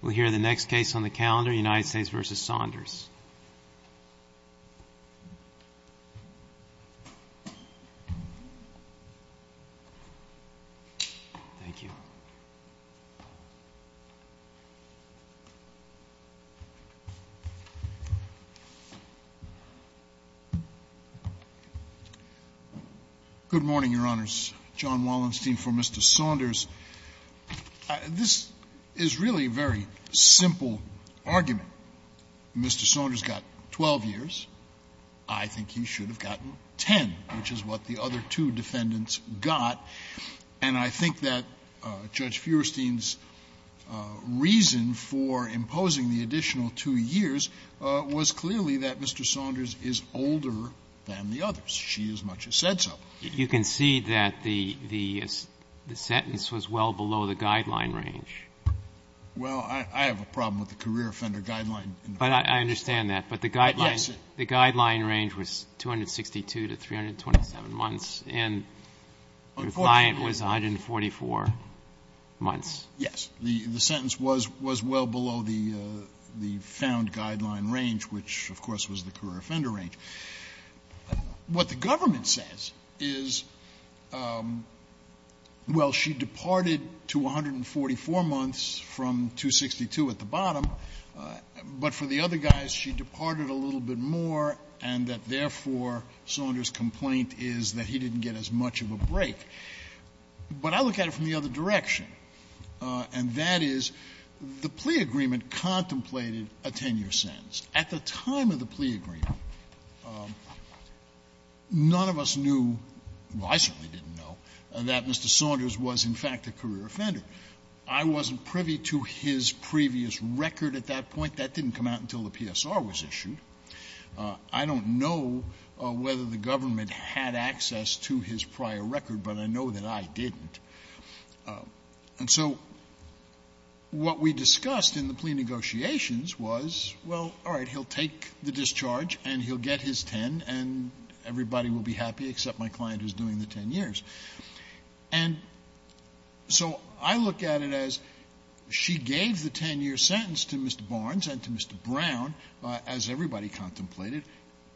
We'll hear the next case on the calendar, United States v. Saunders. Good morning, Your Honors. John Wallenstein for Mr. Saunders. This is really a very simple argument. Mr. Saunders got 12 years. I think he should have gotten 10, which is what the other two defendants got. And I think that Judge Feuerstein's reason for imposing the additional two years was clearly that Mr. Saunders is older than the others. She as much as said so. You can see that the sentence was well below the guideline range. Well, I have a problem with the career offender guideline. But I understand that. But the guideline range was 262 to 327 months, and your client was 144 months. Yes. The sentence was well below the found guideline range, which of course was the career offender range. What the government says is, well, she departed to 144 months from 262 at the bottom, but for the other guys, she departed a little bit more, and that therefore, Saunders' complaint is that he didn't get as much of a break. But I look at it from the other direction, and that is the plea agreement contemplated a 10-year sentence. At the time of the plea agreement, none of us knew, well, I certainly didn't know, that Mr. Saunders was in fact a career offender. I wasn't privy to his previous record at that point. That didn't come out until the PSR was issued. I don't know whether the government had access to his prior record, but I know that I didn't. And so what we discussed in the plea negotiations was, well, all right, he'll take the discharge and he'll get his 10 and everybody will be happy except my client who's doing the 10 years. And so I look at it as she gave the 10-year sentence to Mr. Barnes and to Mr. Brown, as everybody contemplated,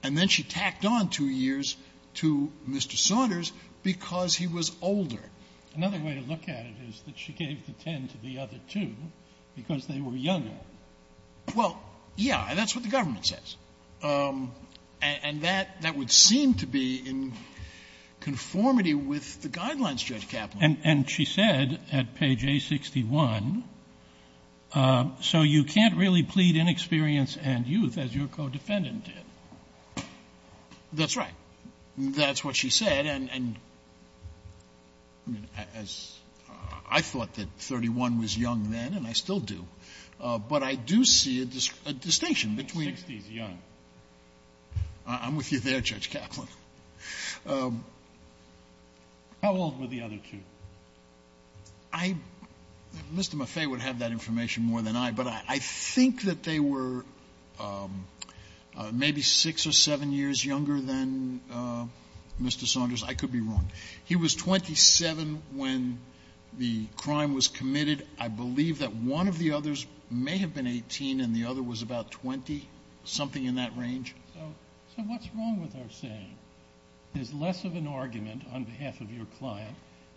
and then she tacked on 2 years to Mr. Saunders because he was older. Sotomayor, another way to look at it is that she gave the 10 to the other two because they were younger. Well, yeah, and that's what the government says. And that would seem to be in conformity with the guidelines, Judge Kaplan. And she said at page A61, so you can't really plead inexperience and youth, as your co-defendant did. That's right. That's what she said. And I thought that 31 was young then, and I still do. But I do see a distinction between the two. Sixty is young. I'm with you there, Judge Kaplan. How old were the other two? Mr. Maffei would have that information more than I, but I think that they were maybe 6 or 7 years younger than Mr. Saunders. I could be wrong. He was 27 when the crime was committed. I believe that one of the others may have been 18 and the other was about 20, something in that range. So what's wrong with our saying, there's less of an argument on behalf of your client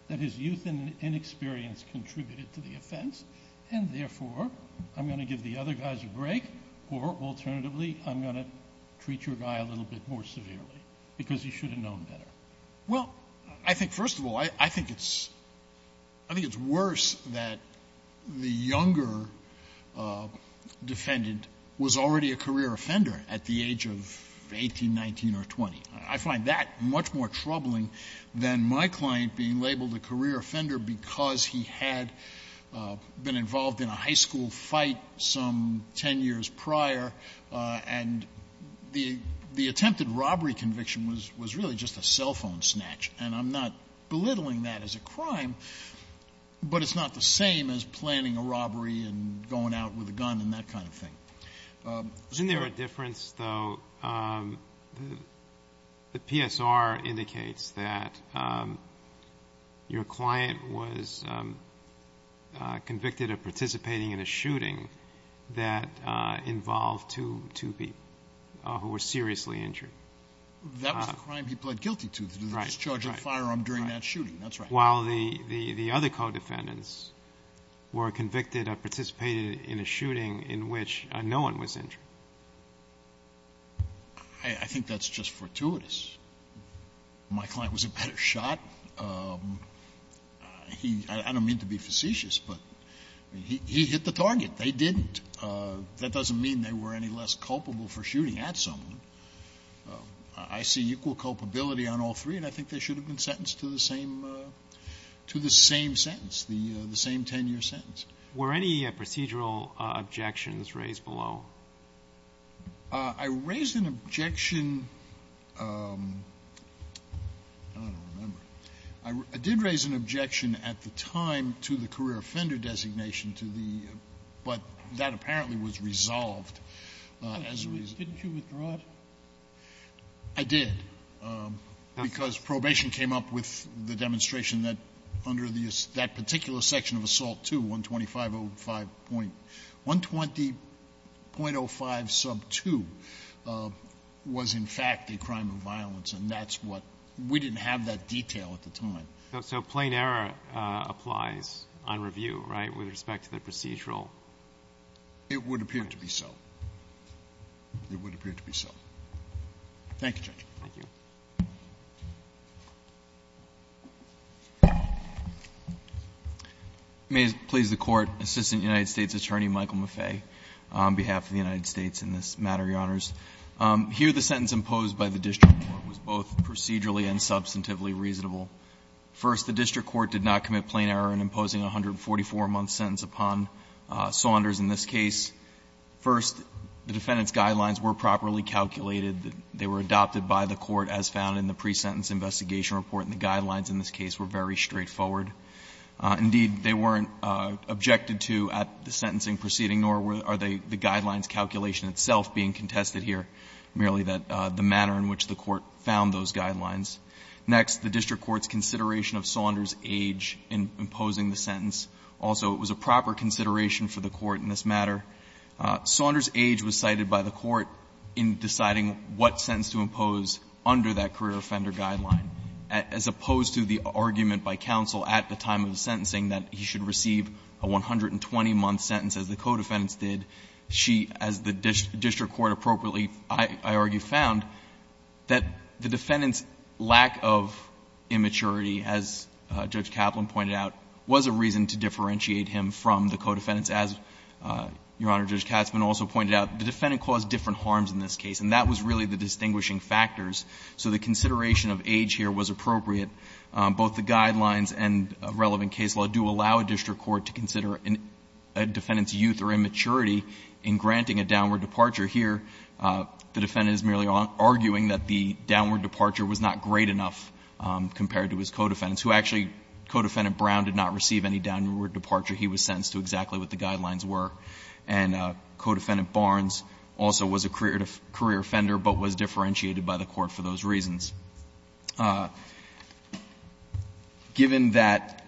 that his youth and inexperience contributed to the offense, and therefore I'm going to give the other guys a break, or alternatively I'm going to treat your guy a little bit more Well, I think, first of all, I think it's — I think it's worse that the younger defendant was already a career offender at the age of 18, 19, or 20. I find that much more troubling than my client being labeled a career offender because he had been involved in a high school fight some 10 years prior, and the attempted robbery conviction was really just a cell phone snatch, and I'm not belittling that as a crime, but it's not the same as planning a robbery and going out with a gun and that kind of thing. Isn't there a difference, though, the PSR indicates that your client was convicted of That was the crime he pled guilty to, the discharging of a firearm during that shooting, that's right. While the other co-defendants were convicted or participated in a shooting in which no one was injured. I think that's just fortuitous. My client was a better shot. He — I don't mean to be facetious, but he hit the target. They didn't — that doesn't mean they were any less culpable for shooting at someone. I see equal culpability on all three, and I think they should have been sentenced to the same — to the same sentence, the same 10-year sentence. Were any procedural objections raised below? I raised an objection — I don't remember. I did raise an objection at the time to the career offender designation to the — but that apparently was resolved. Didn't you withdraw it? I did, because probation came up with the demonstration that under the — that particular section of Assault 2, 120.05 sub 2 was in fact a crime of violence, and that's what — we didn't have that detail at the time. So plain error applies on review, right, with respect to the procedural? It would appear to be so. It would appear to be so. Thank you, Judge. Thank you. May it please the Court. Assistant United States Attorney Michael Maffei on behalf of the United States in this matter, Your Honors. Here, the sentence imposed by the district court was both procedurally and substantively reasonable. First, the district court did not commit plain error in imposing a 144-month sentence upon Saunders in this case. First, the defendant's guidelines were properly calculated. They were adopted by the court as found in the pre-sentence investigation report, and the guidelines in this case were very straightforward. Indeed, they weren't objected to at the sentencing proceeding, nor are they — the guidelines calculation itself being contested here, merely that — the manner in which the court found those guidelines. Next, the district court's consideration of Saunders' age in imposing the sentence. Also, it was a proper consideration for the court in this matter. Saunders' age was cited by the court in deciding what sentence to impose under that career offender guideline, as opposed to the argument by counsel at the time of the sentencing that he should receive a 120-month sentence, as the co-defendants did. She, as the district court appropriately, I argue, found that the defendant's lack of immaturity, as Judge Kaplan pointed out, was a reason to differentiate him from the co-defendants. As Your Honor, Judge Katzmann also pointed out, the defendant caused different harms in this case, and that was really the distinguishing factors. So the consideration of age here was appropriate. Both the guidelines and relevant case law do allow a district court to consider a defendant's youth or immaturity in granting a downward departure. Here, the defendant is merely arguing that the downward departure was not great enough compared to his co-defendants, who actually — co-defendant Brown did not receive any downward departure. He was sentenced to exactly what the guidelines were. And co-defendant Barnes also was a career offender, but was differentiated by the court for those reasons. Given that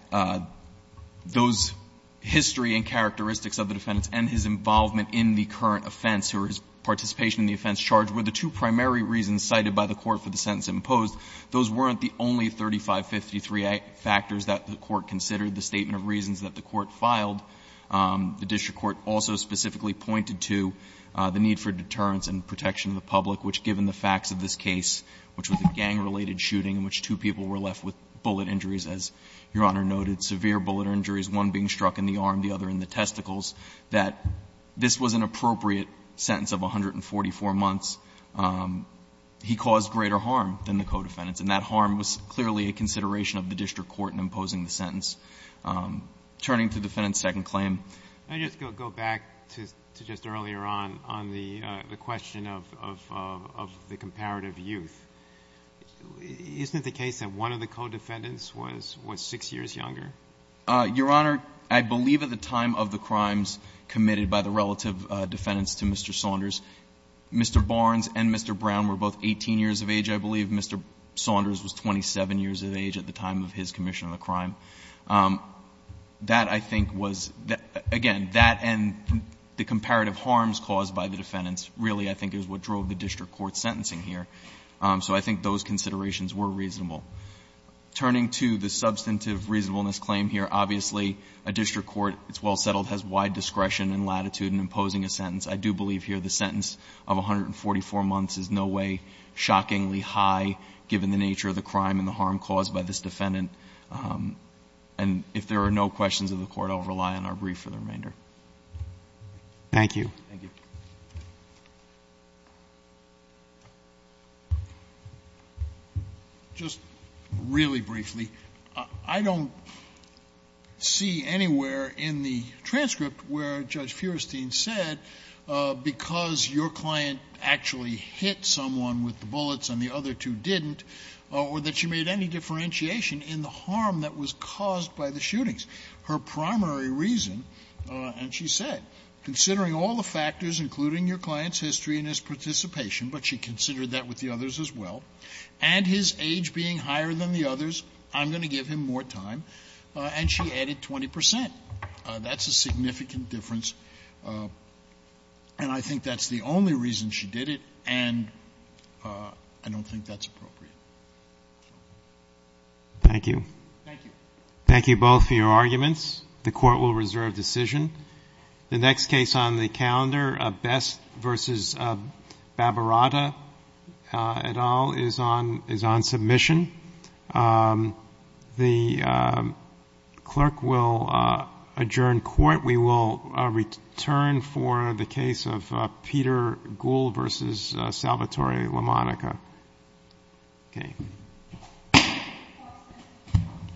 those history and characteristics of the defendants and his involvement in the current offense, or his participation in the offense charge, were the two primary reasons cited by the court for the sentence imposed, those weren't the only 3553 factors that the court considered. The statement of reasons that the court filed, the district court also specifically pointed to the need for deterrence and protection of the public, which, given the facts of this case, which was a gang-related shooting in which two people were left with bullet injuries, as Your Honor noted, severe bullet injuries, one being struck in the arm, the other in the testicles, that this was an appropriate sentence of 144 months. He caused greater harm than the co-defendants. And that harm was clearly a consideration of the district court in imposing the sentence. Turning to defendant's second claim. I just go back to just earlier on, on the question of the comparative youth. Isn't it the case that one of the co-defendants was 6 years younger? Your Honor, I believe at the time of the crimes committed by the relative defendants to Mr. Saunders, Mr. Barnes and Mr. Brown were both 18 years of age, I believe. Mr. Saunders was 27 years of age at the time of his commission of the crime. That, I think, was, again, that and the comparative harms caused by the defendants really, I think, is what drove the district court's sentencing here. So I think those considerations were reasonable. Turning to the substantive reasonableness claim here, obviously, a district court, it's well settled, has wide discretion and latitude in imposing a sentence. I do believe here the sentence of 144 months is no way shockingly high, given the nature of the crime and the harm caused by this defendant. And if there are no questions of the Court, I'll rely on our brief for the remainder. Thank you. Thank you. Just really briefly, I don't see anywhere in the transcript where Judge Feurstein said, because your client actually hit someone with the bullets and the other two didn't, or that she made any differentiation in the harm that was caused by the shootings. Her primary reason, and she said, considering all the factors, including your client's history and his participation, but she considered that with the others as well, and his age being higher than the others, I'm going to give him more time, and she added 20 percent. That's a significant difference. And I think that's the only reason she did it, and I don't think that's appropriate. Thank you. Thank you. Thank you both for your arguments. The Court will reserve decision. The next case on the calendar, Best v. Babarata et al., is on submission. The Clerk will adjourn Court. We will return for the case of Peter Gould v. Salvatore LaMonica. Okay.